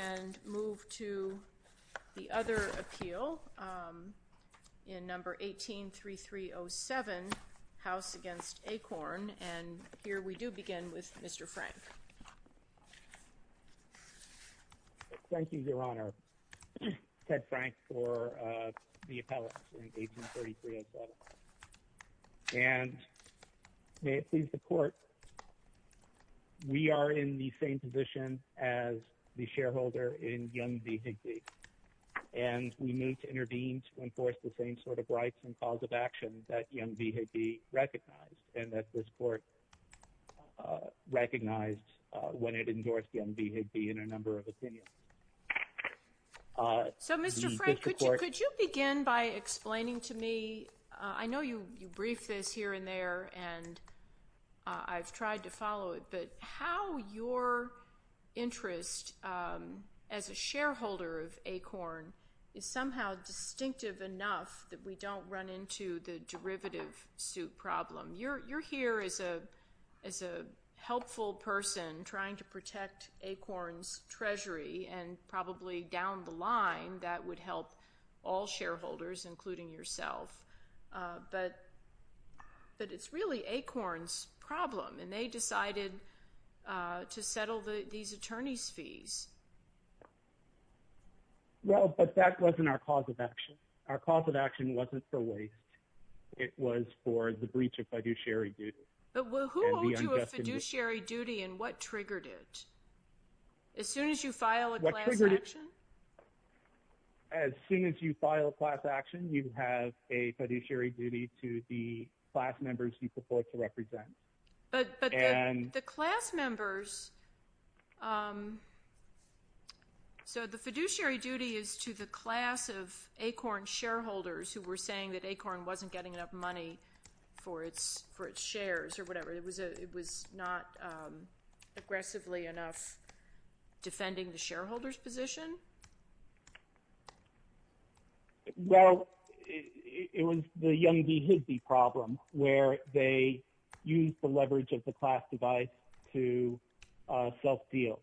And move to the other appeal in number 18-3307, House v. Akorn, and here we do begin with Mr. Frank. Thank you, Your Honor. Ted Frank for the appellate in 18-3307. And may it please the Court, we are in the same position as the shareholder in Young v. Higbee. And we move to intervene to enforce the same sort of rights and cause of action that Young v. Higbee recognized and that this Court recognized when it endorsed Young v. Higbee in a number of opinions. So Mr. Frank, could you begin by explaining to me, I know you briefed this here and there and I've tried to follow it, but how your interest as a shareholder of Akorn is somehow distinctive enough that we don't run into the derivative suit problem. You're here as a helpful person trying to protect Akorn's treasury and probably down the line that would help all shareholders, including yourself. But it's really Akorn's problem and they decided to settle these attorney's fees. Well, but that wasn't our cause of action. Our cause of action wasn't for waste. It was for the breach of fiduciary duty and the unjust in it. But who owed you a fiduciary duty and what triggered it? As soon as you file a class action? As soon as you file a class action, you have a fiduciary duty to the class members you purport to represent. But the class members, so the fiduciary duty is to the class of Akorn shareholders who were saying that Akorn wasn't getting enough money for its shares or whatever. It was not aggressively enough defending the shareholder's position. Well, it was the Young v. Hiddey problem where they used the leverage of the class divide to self-deal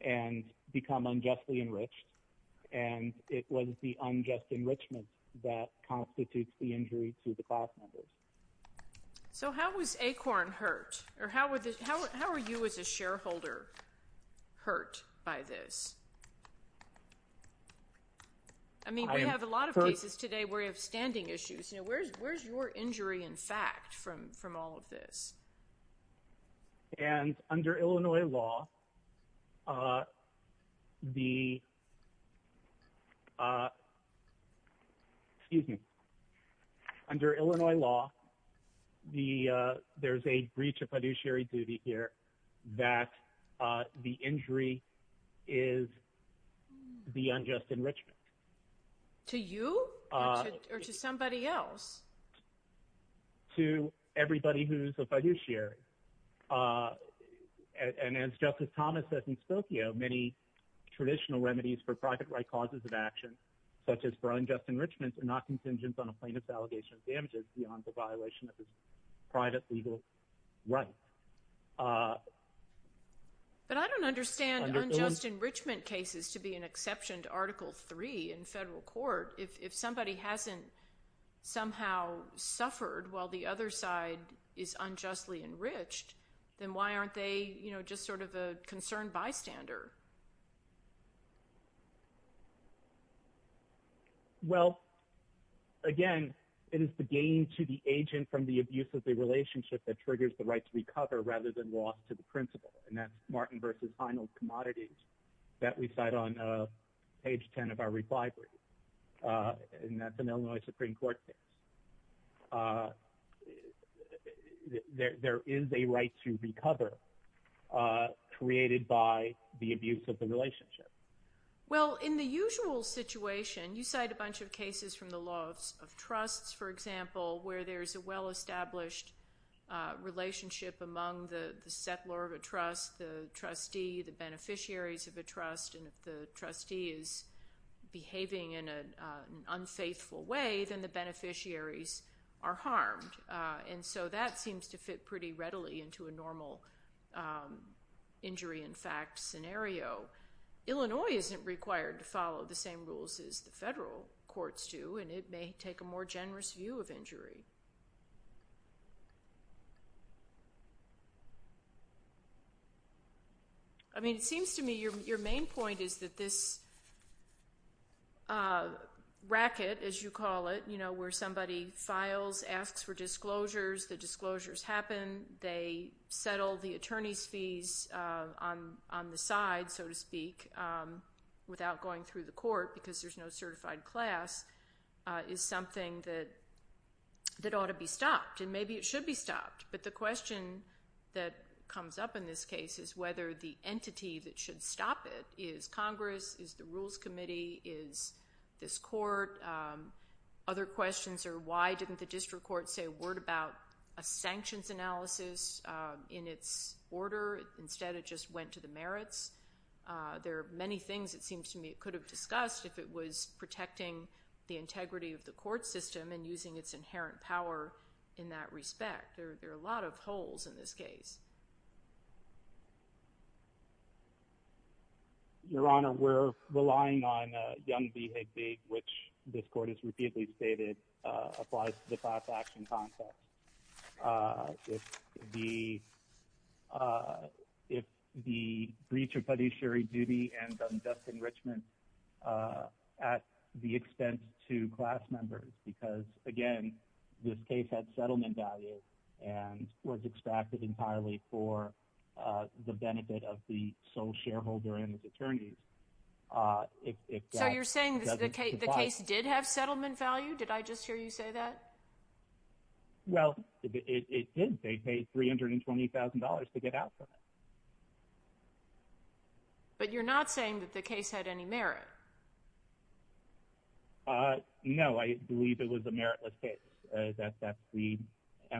and become unjustly enriched. And it was the unjust enrichment that constitutes the injury to the class members. So how was Akorn hurt? Or how are you as a shareholder hurt by this? I mean, we have a lot of cases today where you have standing issues. Where's your injury in fact from all of this? And under Illinois law, there's a breach of fiduciary duty here that the injury is the unjust enrichment. To you? Or to somebody else? To everybody who's a fiduciary. And as Justice Thomas said in Spokio, many traditional remedies for private right causes of action, such as for unjust enrichment, are not contingent on a plaintiff's allegation of damages beyond the violation of his private legal rights. But I don't understand unjust enrichment cases to be an exception to Article 3 in federal court. If somebody hasn't somehow suffered while the other side is unjustly enriched, then why aren't they just sort of a concerned bystander? Well, again, it is the gain to the agent from the abuse of the relationship that triggers the right to recover rather than loss to the principal. And that's Martin v. Heinel's that we cite on page 10 of our reply brief. And that's an Illinois Supreme Court case. There is a right to recover created by the abuse of the relationship. Well, in the usual situation, you cite a bunch of cases from the laws of trusts, for example, where there's a well-established relationship among the settlor of a trust, the trustee, the beneficiaries of a trust, and if the trustee is behaving in an unfaithful way, then the beneficiaries are harmed. And so that seems to fit pretty readily into a normal injury-in-fact scenario. Illinois isn't required to follow the same rules as the federal courts do, and it may take a more generous view of injury. I mean, it seems to me your main point is that this racket, as you call it, where somebody files, asks for disclosures, the disclosures happen, they settle the attorney's fees on the side, so to speak, without going through the court because there's no certified class, is something that ought to be stopped, and maybe it should be stopped. But the question that comes up in this case is whether the entity that should stop it is Congress, is the Rules Committee, is this court. Other questions are why didn't the district court say a word about a sanctions analysis in its order? Instead, it just went to the merits. There are many things, it seems to me, it could have discussed if it was protecting the integrity of the court system and using its inherent power in that respect. There are a lot of holes in this case. Your Honor, we're relying on Young v. Higbee, which this court has repeatedly stated applies to the class action concept. If the breach of beneficiary duty and unjust enrichment at the expense to class members, because again, this case had settlement value and was extracted entirely for the benefit of the sole shareholder and his attorneys. So you're saying the case did have settlement value? Did I just hear you say that? Well, it did. They paid $320,000 to get out from it. But you're not saying that the case had any merit? No, I believe it was a meritless case. That's the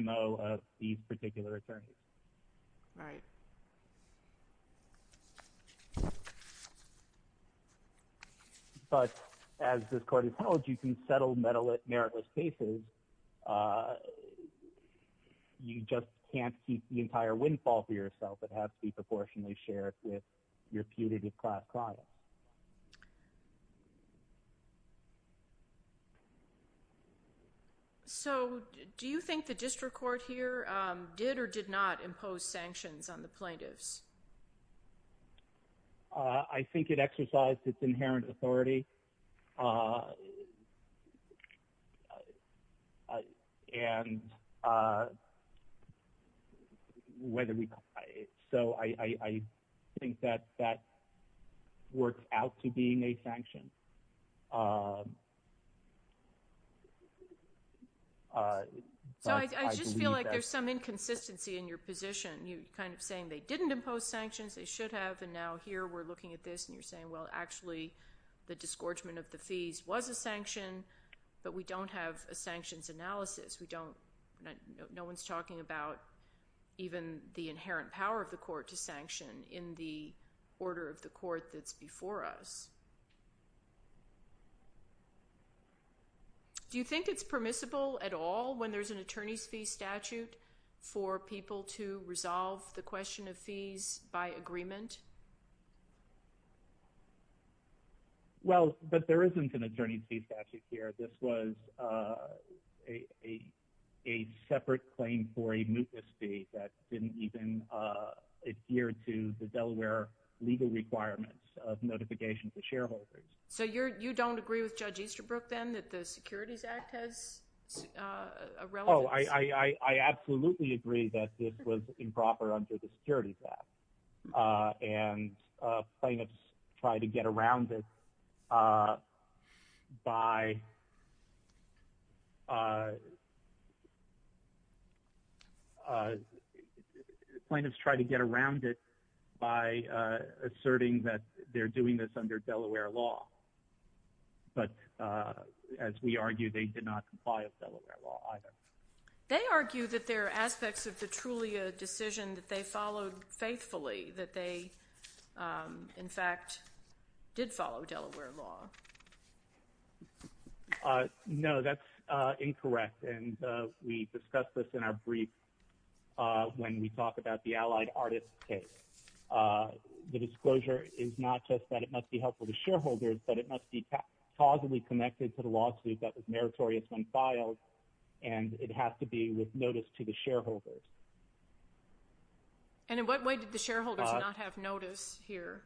MO of these particular attorneys. Right. But as this court has held, you can settle meritless cases. You just can't keep the entire windfall for yourself. It has to be proportionally shared with your punitive class client. So do you think the district court here did or did not impose sanctions on the plaintiffs? I think it exercised its inherent authority and so I think that works out to being a sanction. So I just feel like there's some inconsistency in your position. You're kind of saying they didn't impose sanctions, they should have, and now here we're looking at this and you're saying, well, actually the disgorgement of the fees was a sanction, but we don't have a sanctions analysis. No one's talking about even the inherent power of the court to sanction in the order of the court that's before us. Do you think it's permissible at all when there's an attorney's fee statute for people to resolve the question of fees by agreement? Well, but there isn't an attorney's fee statute here. This was a separate claim for a mootness fee that didn't even adhere to the Delaware legal requirements of notification for shareholders. So you don't agree with Judge Easterbrook then that the Securities Act has a relevance? No, I absolutely agree that this was improper under the Securities Act and plaintiffs try to get around it by plaintiffs try to get around it by asserting that they're doing this under Delaware law. But as we argue, they did not comply with Delaware law either. They argue that there are aspects of the Trulia decision that they followed faithfully, that they in fact did follow Delaware law. No, that's incorrect. And we discussed this in our brief when we talked about the allied artists case. The disclosure is not just that it must be helpful to shareholders, but it must be causally connected to the lawsuit that was meritorious when filed. And it has to be with notice to the shareholders. And in what way did the shareholders not have notice here?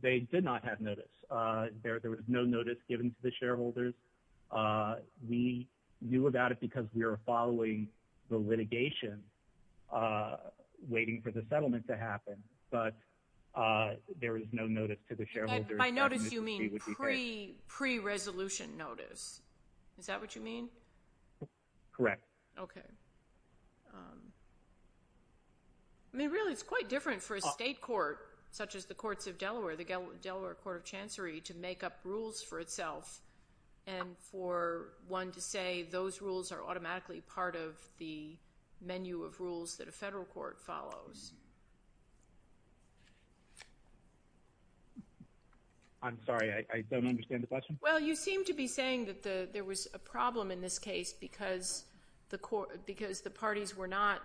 They did not have notice. There was no notice given to the shareholders. We knew about it because we were following the litigation waiting for the settlement to happen. But there is no notice to the shareholders. By notice you mean pre-resolution notice. Is that what you mean? Correct. Okay. I mean really it's quite different for a state court, such as the courts of Delaware, the Delaware Court of Chancery, to make up rules for itself and for one to say those rules are automatically part of the menu of rules that a federal court follows. I'm sorry. I don't understand the question. Well, you seem to be saying that there was a problem in this case because the parties were not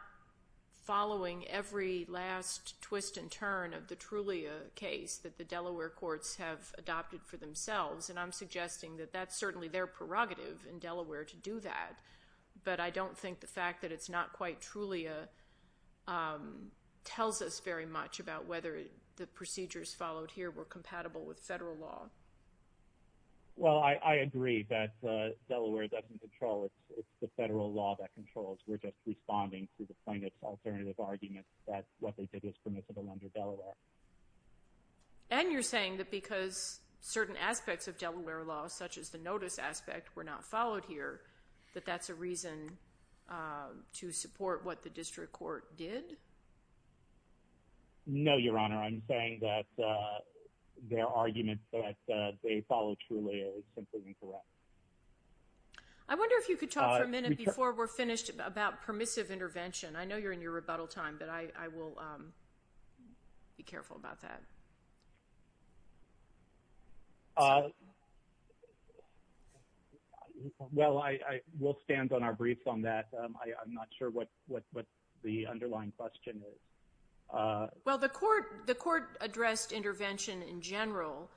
following every last twist and turn of the Trulia case that the Delaware courts have adopted for themselves. And I'm suggesting that that's certainly their prerogative in Delaware to do that. But I don't think the fact that it's not quite Trulia tells us very much about whether the procedures followed here were compatible with federal law. Well, I agree that Delaware doesn't control it. It's the federal law that controls. We're just responding to the plaintiff's alternative arguments that what they did was permissible under Delaware. And you're saying that because certain aspects of Delaware law, such as the notice aspect, were not followed here, that that's a reason to support what the district court did? No, Your Honor. I'm saying that their argument that they follow Trulia is simply incorrect. I wonder if you could talk for a minute before we're finished about permissive intervention. I know you're in your rebuttal time, but I will be careful about that. Well, I will stand on our briefs on that. I'm not sure what the underlying question is. Well, the court addressed intervention in general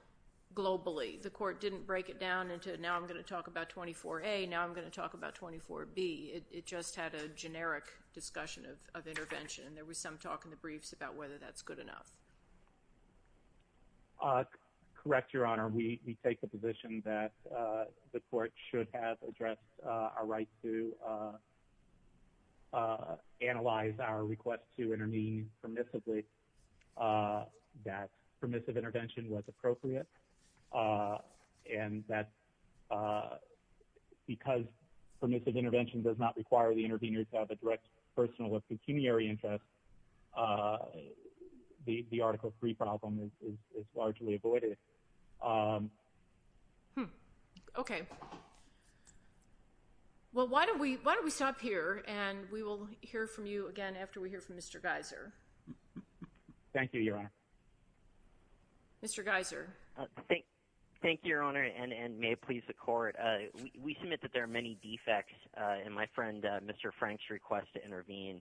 globally. The court didn't break it down into, now I'm going to talk about 24A, now I'm going to talk about 24B. It just had a generic discussion of intervention. There was some talk in the briefs about whether that's good enough. Correct, Your Honor. We take the position that the court should have addressed our right to analyze our request to intervene permissively, that permissive intervention was appropriate, and that because permissive intervention does not require the intervener to have a direct personal or pecuniary interest, the Article III problem is largely avoided. Okay. Well, why don't we stop here, and we will hear from you again after we hear from Mr. Geiser. Thank you, Your Honor. Thank you, Your Honor, and may it please the court. We submit that there are many defects in my friend Mr. Frank's request to intervene,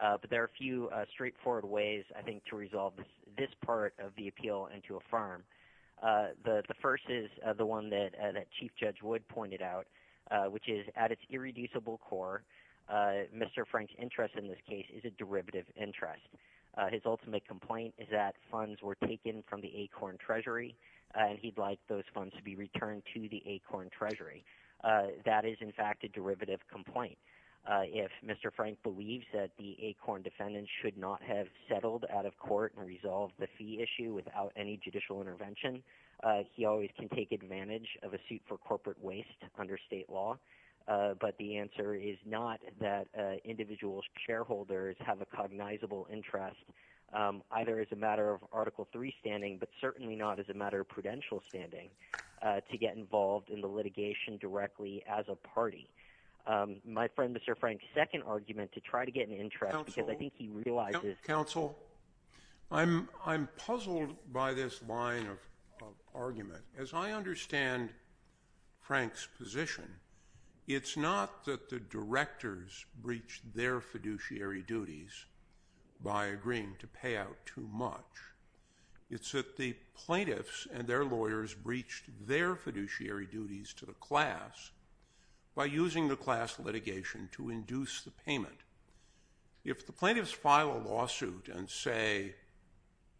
but there are a few straightforward ways, I think, to resolve this part of the appeal and to affirm. The first is the one that Chief Judge Wood pointed out, which is at its irreducible core, Mr. Frank's interest in this case is a derivative interest. His ultimate complaint is that funds were taken from the ACORN Treasury, and he'd like those funds to be returned to the ACORN Treasury. That is, in fact, a derivative complaint. If Mr. Frank believes that the ACORN defendant should not have settled out of court and resolved the fee issue without any judicial intervention, he always can take advantage of a suit for corporate waste under state law, but the answer is not that individual shareholders have a cognizable interest, either as a matter of Article III standing, but certainly not as a matter of prudential standing to get involved in the litigation directly as a party. My friend Mr. Frank's counsel, I'm puzzled by this line of argument. As I understand Frank's position, it's not that the directors breached their fiduciary duties by agreeing to pay out too much. It's that the plaintiffs and their lawyers breached their fiduciary duties to the class by using the class litigation to induce the payment. If the plaintiffs file a lawsuit and say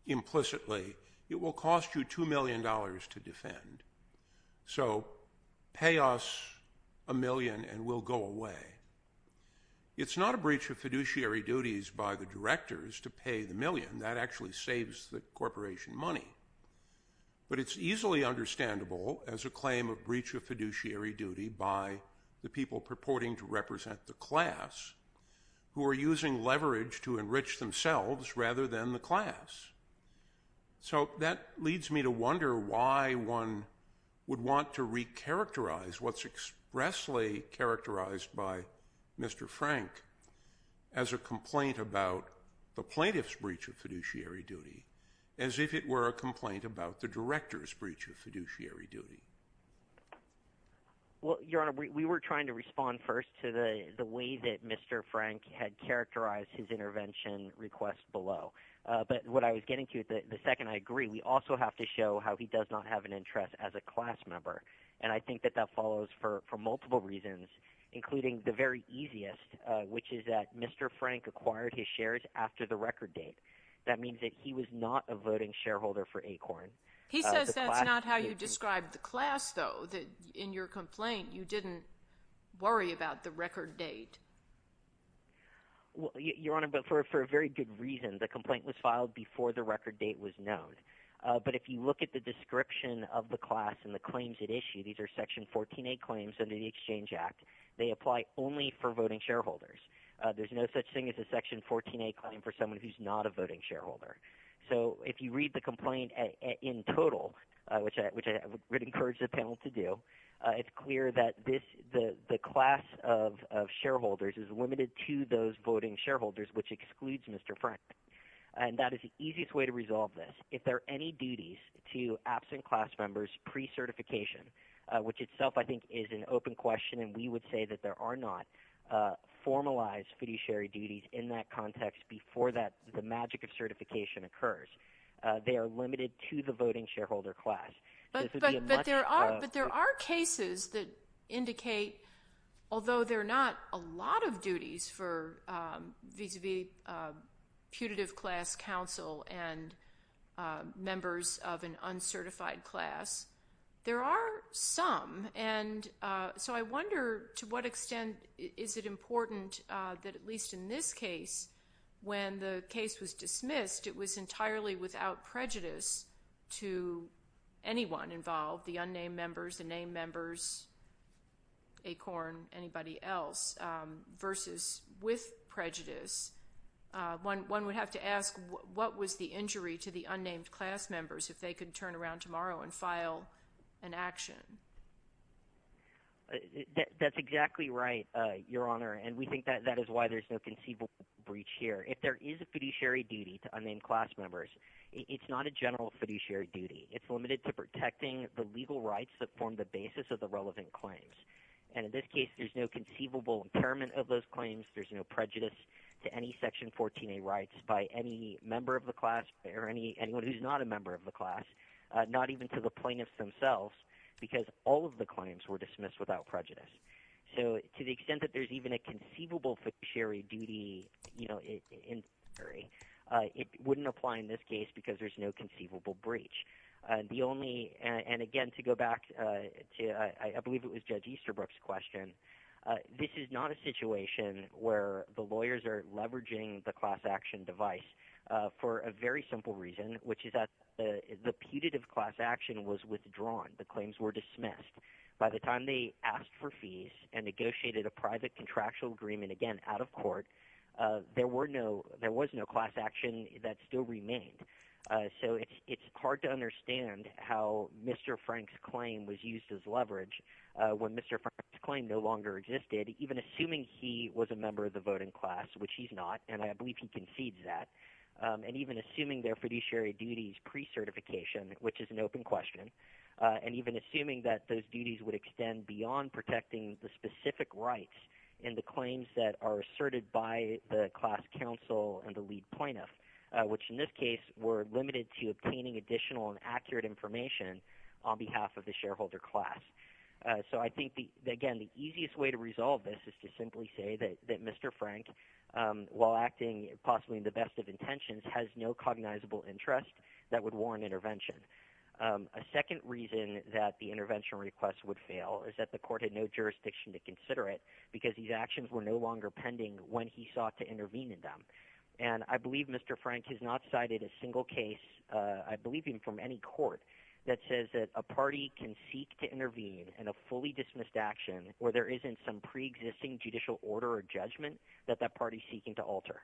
implicitly, it will cost you $2 million to defend, so pay us a million and we'll go away. It's not a breach of fiduciary duties by the directors to pay the million. That actually saves the corporation money, but it's easily understandable as a claim of breach of fiduciary duty by the people purporting to represent the class who are using leverage to enrich themselves rather than the class. So that leads me to wonder why one would want to recharacterize what's expressly characterized by Mr. Frank as a complaint about the plaintiff's breach of fiduciary duty as if it were a complaint about the director's breach of fiduciary duty. Well, Your Honor, we were trying to respond first to the way that Mr. Frank had characterized his intervention request below. But what I was getting to, the second I agree, we also have to show how he does not have an interest as a class member. And I think that that follows for multiple reasons, including the very easiest, which is that Mr. Frank acquired his shares after the record date. That means that he was not a voting shareholder for ACORN. He says that's not how you describe the class, though, that in your complaint you didn't worry about the record date. Well, Your Honor, but for a very good reason. The complaint was filed before the record date was known. But if you look at the description of the class and the claims it issued, these are Section 14A claims under the Exchange Act. They apply only for voting shareholders. There's no such thing as a Section 14A claim for someone who's not a voting shareholder. So if you read the complaint in total, which I would encourage the panel to do, it's clear that the class of shareholders is limited to those voting shareholders, which excludes Mr. Frank. And that is the easiest way to resolve this. If there are any duties to absent class members pre-certification, which itself I think is an open question, and we would say that there are not formalized fiduciary duties in that context before the magic of certification occurs, they are limited to the voting shareholder class. But there are cases that indicate, although there are not a lot of duties for vis-a-vis putative class council and members of an uncertified class, there are some. And so I wonder to what extent is it important that at least in this case when the case was dismissed it was entirely without prejudice to anyone involved, the unnamed members, the named members, ACORN, anybody else, versus with prejudice. One would have to ask what was the That's exactly right, Your Honor. And we think that is why there's no conceivable breach here. If there is a fiduciary duty to unnamed class members, it's not a general fiduciary duty. It's limited to protecting the legal rights that form the basis of the relevant claims. And in this case, there's no conceivable impairment of those claims. There's no prejudice to any Section 14A rights by any member of the class or anyone who's not a member of the class, not even to the plaintiffs themselves, because all of the claims were dismissed without prejudice. So to the extent that there's even a conceivable fiduciary duty in this case, it wouldn't apply in this case because there's no conceivable breach. And again, to go back to, I believe it was Judge Easterbrook's question, this is not a situation where the lawyers are leveraging the class action device for a very simple reason, which is that the putative class action was withdrawn. The claims were dismissed. By the time they asked for fees and negotiated a private contractual agreement, again, out of court, there was no class action that still remained. So it's hard to understand how Mr. Frank's claim was used as leverage when Mr. Frank's claim no longer existed, even assuming he was a member of the voting class, which he's not, and I believe he concedes that, and even assuming their fiduciary duties pre-certification, which is an open question, and even assuming that those duties would extend beyond protecting the specific rights in the claims that are asserted by the information on behalf of the shareholder class. So I think, again, the easiest way to resolve this is to simply say that Mr. Frank, while acting possibly in the best of intentions, has no cognizable interest that would warrant intervention. A second reason that the intervention request would fail is that the court had no jurisdiction to consider it because these actions were no longer pending when he sought to intervene in them. And I believe Mr. Frank has not cited a single case, I believe even from any court, that says that a party can seek to intervene in a fully dismissed action where there isn't some pre-existing judicial order or judgment that that party is seeking to alter.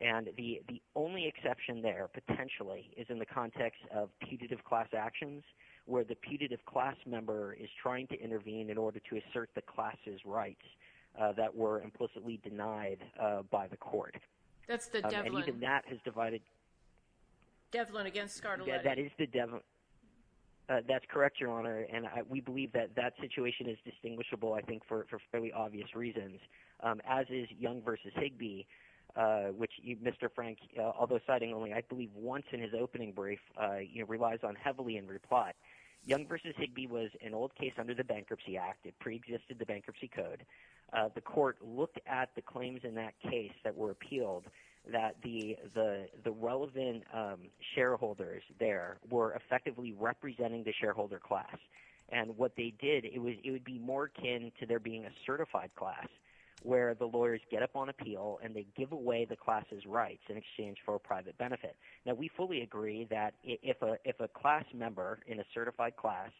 And the only exception there, potentially, is in the context of putative class actions where the putative class member is trying to intervene in order to assert the class's rights that were implicitly denied by the court. That's the Devlin. And even that has divided... Devlin against Scardelletti. Yeah, that is the Devlin. That's correct, Your Honor, and we believe that that situation is distinguishable, I think, for fairly obvious reasons, as is Young v. Higbee, which Mr. Frank, although citing only, I believe, once in his opening brief, relies on heavily in reply. Young v. Higbee was an old case under the Bankruptcy Act. It pre-existed the Bankruptcy Code. The court looked at the claims in that case that were appealed that the relevant shareholders there were effectively representing the shareholder class. And what they did, it would be more akin to there being a certified class where the lawyers get up on appeal and they give away the class's rights in exchange for a private benefit. Now, we fully agree that if a class member in a certified class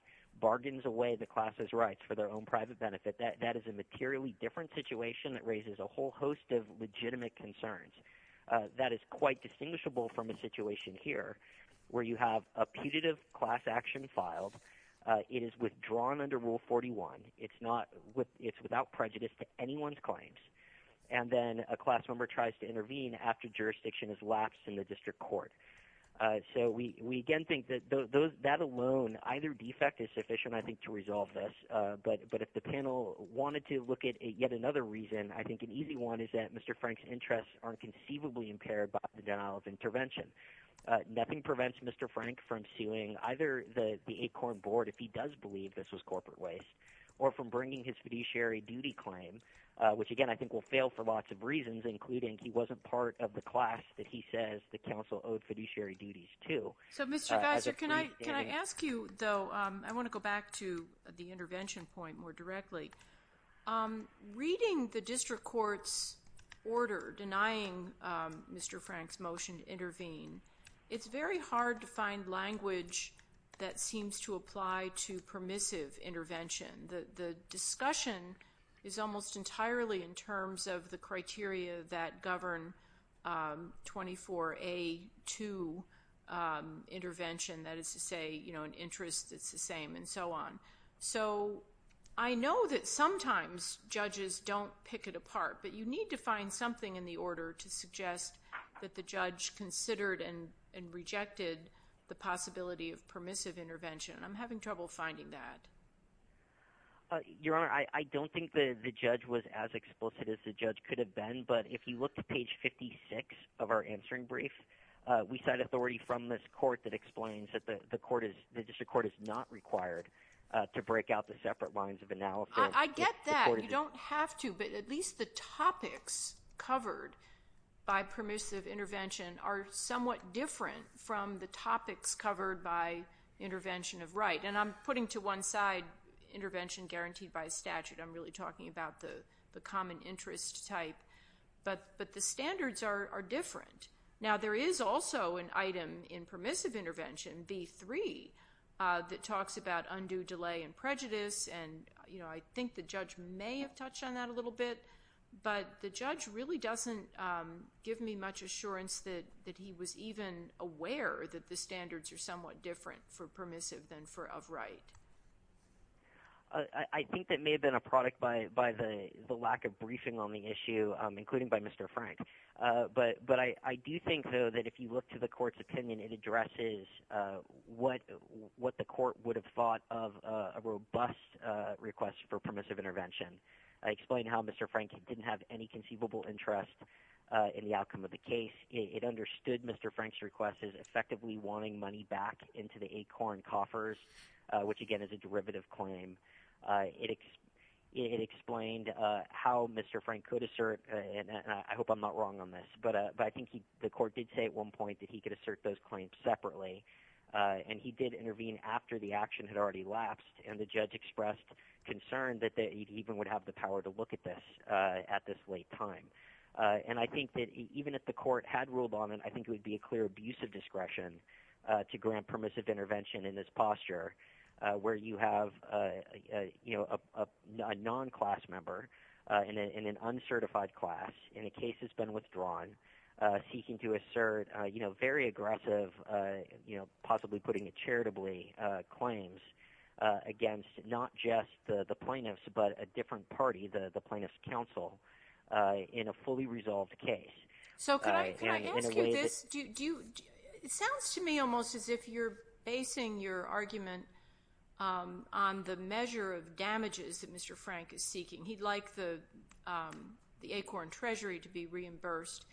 bargains away the class's rights for their own private benefit, that is a materially different situation that raises a whole host of legitimate concerns. That is quite distinguishable from a situation here where you have a putative class action filed. It is withdrawn under Rule 41. It's without prejudice to anyone's claims. And then a class member tries to intervene after jurisdiction has lapsed in the district court. So we again think that that alone, either defect is sufficient, I think, to resolve this. But if the panel wanted to look at yet another reason, I think an easy one is that Mr. Frank's interests aren't conceivably impaired by the denial of intervention. Nothing prevents Mr. Frank from suing either the ACORN board if he does believe this was corporate waste or from bringing his fiduciary duty claim, which again I think will fail for lots of reasons, including he wasn't part of the class that he says the council owed fiduciary duties to. So, Mr. Geiser, can I ask you, though, I want to go back to the intervention point more directly. Reading the district court's order denying Mr. Frank's motion to intervene, it's very hard to find language that seems to apply to permissive intervention. The discussion is almost entirely in terms of the criteria that govern 24A2 intervention, that is to say an interest that's the same and so on. So I know that sometimes judges don't pick it apart, but you need to find something in the order to suggest that the judge considered and rejected the possibility of permissive intervention. I'm having trouble finding that. Your Honor, I don't think the judge was as explicit as the judge could have been, but if you look at page 56 of our answering brief, we cite authority from this court that explains that the district court is not required to break out the separate lines of analysis. I get that. You don't have to, but at least the topics covered by permissive intervention are somewhat different from the topics covered by intervention of right. And I'm putting to one side intervention guaranteed by statute. I'm really talking about the common interest type, but the standards are different. Now, there is also an item in permissive intervention, B3, that talks about undue delay and prejudice, and I think the judge may have touched on that a little bit, but the judge really doesn't give me much assurance that he was even aware that the standards are somewhat different for permissive than for of right. I think that may have been a product by the lack of briefing on the issue, including by Mr. Frank. But I do think, though, that if you look to the court's opinion, it addresses what the court would have thought of a robust request for permissive intervention. I explained how Mr. Frank didn't have any conceivable interest in the outcome of the case. It understood Mr. Frank's request as effectively wanting money back into the ACORN coffers, which, again, is a derivative claim. It explained how Mr. Frank could assert, and I hope I'm not wrong on this, but I think the court did say at one point that he could assert those claims separately, and he did intervene after the action had already lapsed, and the judge expressed concern that he even would have the power to look at this at this late time. And I think that even if the court had ruled on it, I think it would be a clear abuse of discretion to grant permissive intervention in this posture, where you have a non-class member in an uncertified class in a case that's been withdrawn, seeking to assert very aggressive, possibly putting it charitably, claims against not just the plaintiffs but a different party, the Plaintiffs' Council, in a fully resolved case. So could I ask you this? It sounds to me almost as if you're basing your argument on the measure of damages that Mr. Frank is seeking. He'd like the ACORN treasury to be reimbursed,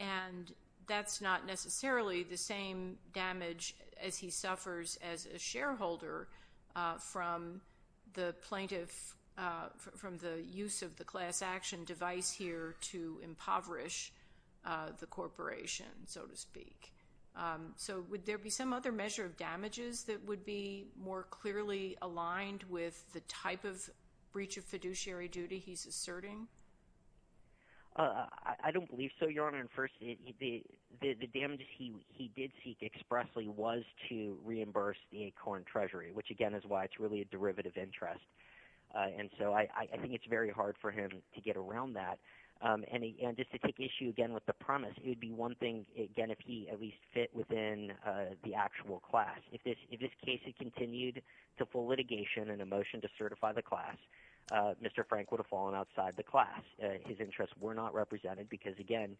and that's not necessarily the same damage as he suffers as a shareholder from the plaintiff, from the use of the class action device here to impoverish the corporation, so to speak. So would there be some other measure of damages that would be more clearly aligned with the type of breach of fiduciary duty he's asserting? I don't believe so, Your Honor. And first, the damages he did seek expressly was to reimburse the ACORN treasury, which again is why it's really a derivative interest. And so I think it's very hard for him to get around that. And just to take issue again with the premise, it would be one thing, again, if he at least fit within the actual class. If this case had continued to full litigation and a motion to certify the class, Mr. Frank would have fallen outside the class. His interests were not represented because, again,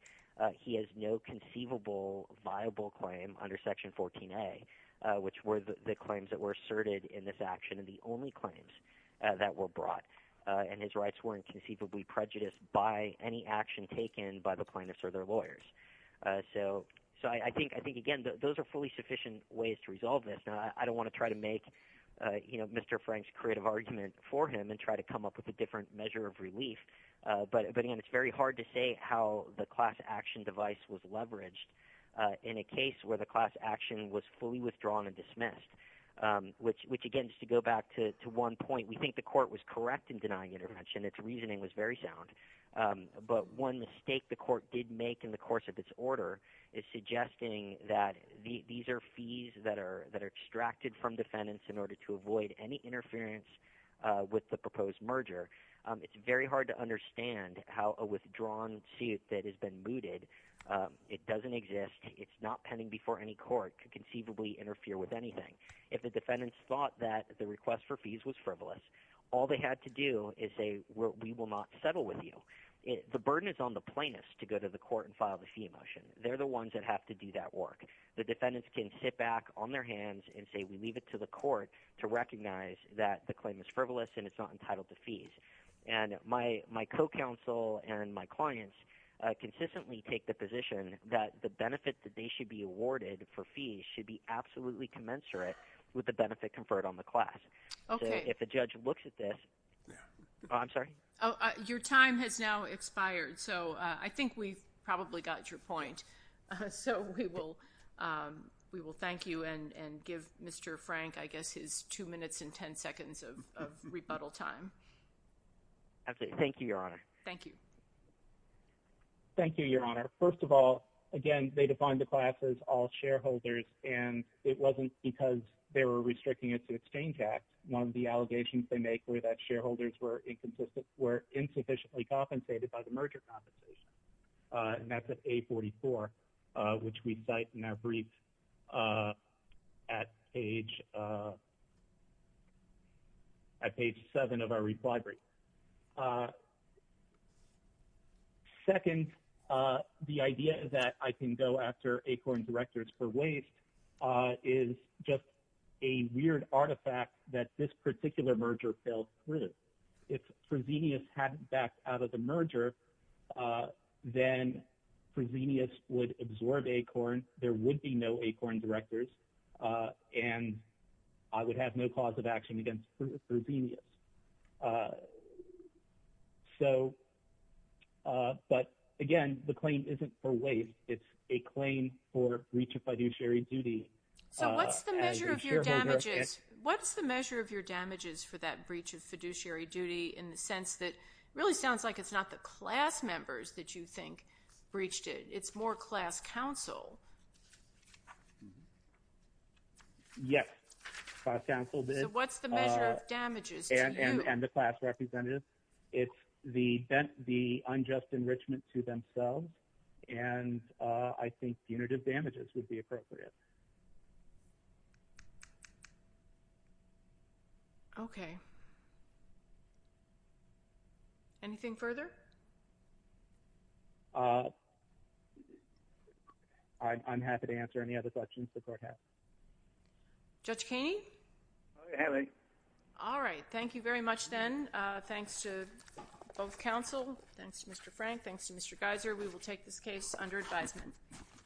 he has no conceivable viable claim under Section 14a, which were the claims that were asserted in this action and the only claims that were brought. And his rights weren't conceivably prejudiced by any action taken by the plaintiffs or their lawyers. So I think, again, those are fully sufficient ways to resolve this. Now, I don't want to try to make Mr. Frank's creative argument for him and try to come up with a different measure of relief. But, again, it's very hard to say how the class action device was leveraged in a case where the class action was fully withdrawn and dismissed, which, again, just to go back to one point, we think the court was correct in denying intervention. Its reasoning was very sound. But one mistake the court did make in the course of its order is suggesting that these are fees that are extracted from defendants in order to avoid any interference with the proposed merger. It's very hard to understand how a withdrawn suit that has been mooted, it doesn't exist, it's not pending before any court, could conceivably interfere with anything. If the defendants thought that the request for fees was frivolous, all they had to do is say, we will not settle with you. The burden is on the plaintiffs to go to the court and file the fee motion. They're the ones that have to do that work. The defendants can sit back on their hands and say, we leave it to the court to recognize that the claim is frivolous and it's not entitled to fees. And my co-counsel and my clients consistently take the position that the benefit that they should be awarded for fees should be absolutely commensurate with the benefit conferred on the class. So if a judge looks at this, I'm sorry? Your time has now expired, so I think we've probably got your point. So we will thank you and give Mr. Frank, I guess, his 2 minutes and 10 seconds of rebuttal time. Thank you, Your Honor. Thank you. Thank you, Your Honor. First of all, again, they defined the class as all shareholders, and it wasn't because they were restricting it to Exchange Act. One of the allegations they make was that shareholders were insufficiently compensated by the merger compensation. And that's at A44, which we cite in our brief at page 7 of our reply brief. Second, the idea that I can go after ACORN directors for waste is just a weird artifact that this particular merger fell through. If Fresenius hadn't backed out of the merger, then Fresenius would absorb ACORN, there would be no ACORN directors, and I would have no cause of action against Fresenius. But, again, the claim isn't for waste, it's a claim for breach of fiduciary duty. So what's the measure of your damages for that breach of fiduciary duty, in the sense that it really sounds like it's not the class members that you think breached it, it's more class counsel? Yes, class counsel did. So what's the measure of damages to you? And the class representatives. It's the unjust enrichment to themselves, and I think punitive damages would be appropriate. Okay. Anything further? I'm happy to answer any other questions the court has. Judge Keeney? Aye. All right. Thank you very much, then. Thanks to both counsel, thanks to Mr. Frank, thanks to Mr. Geiser. We will take this case under advisement.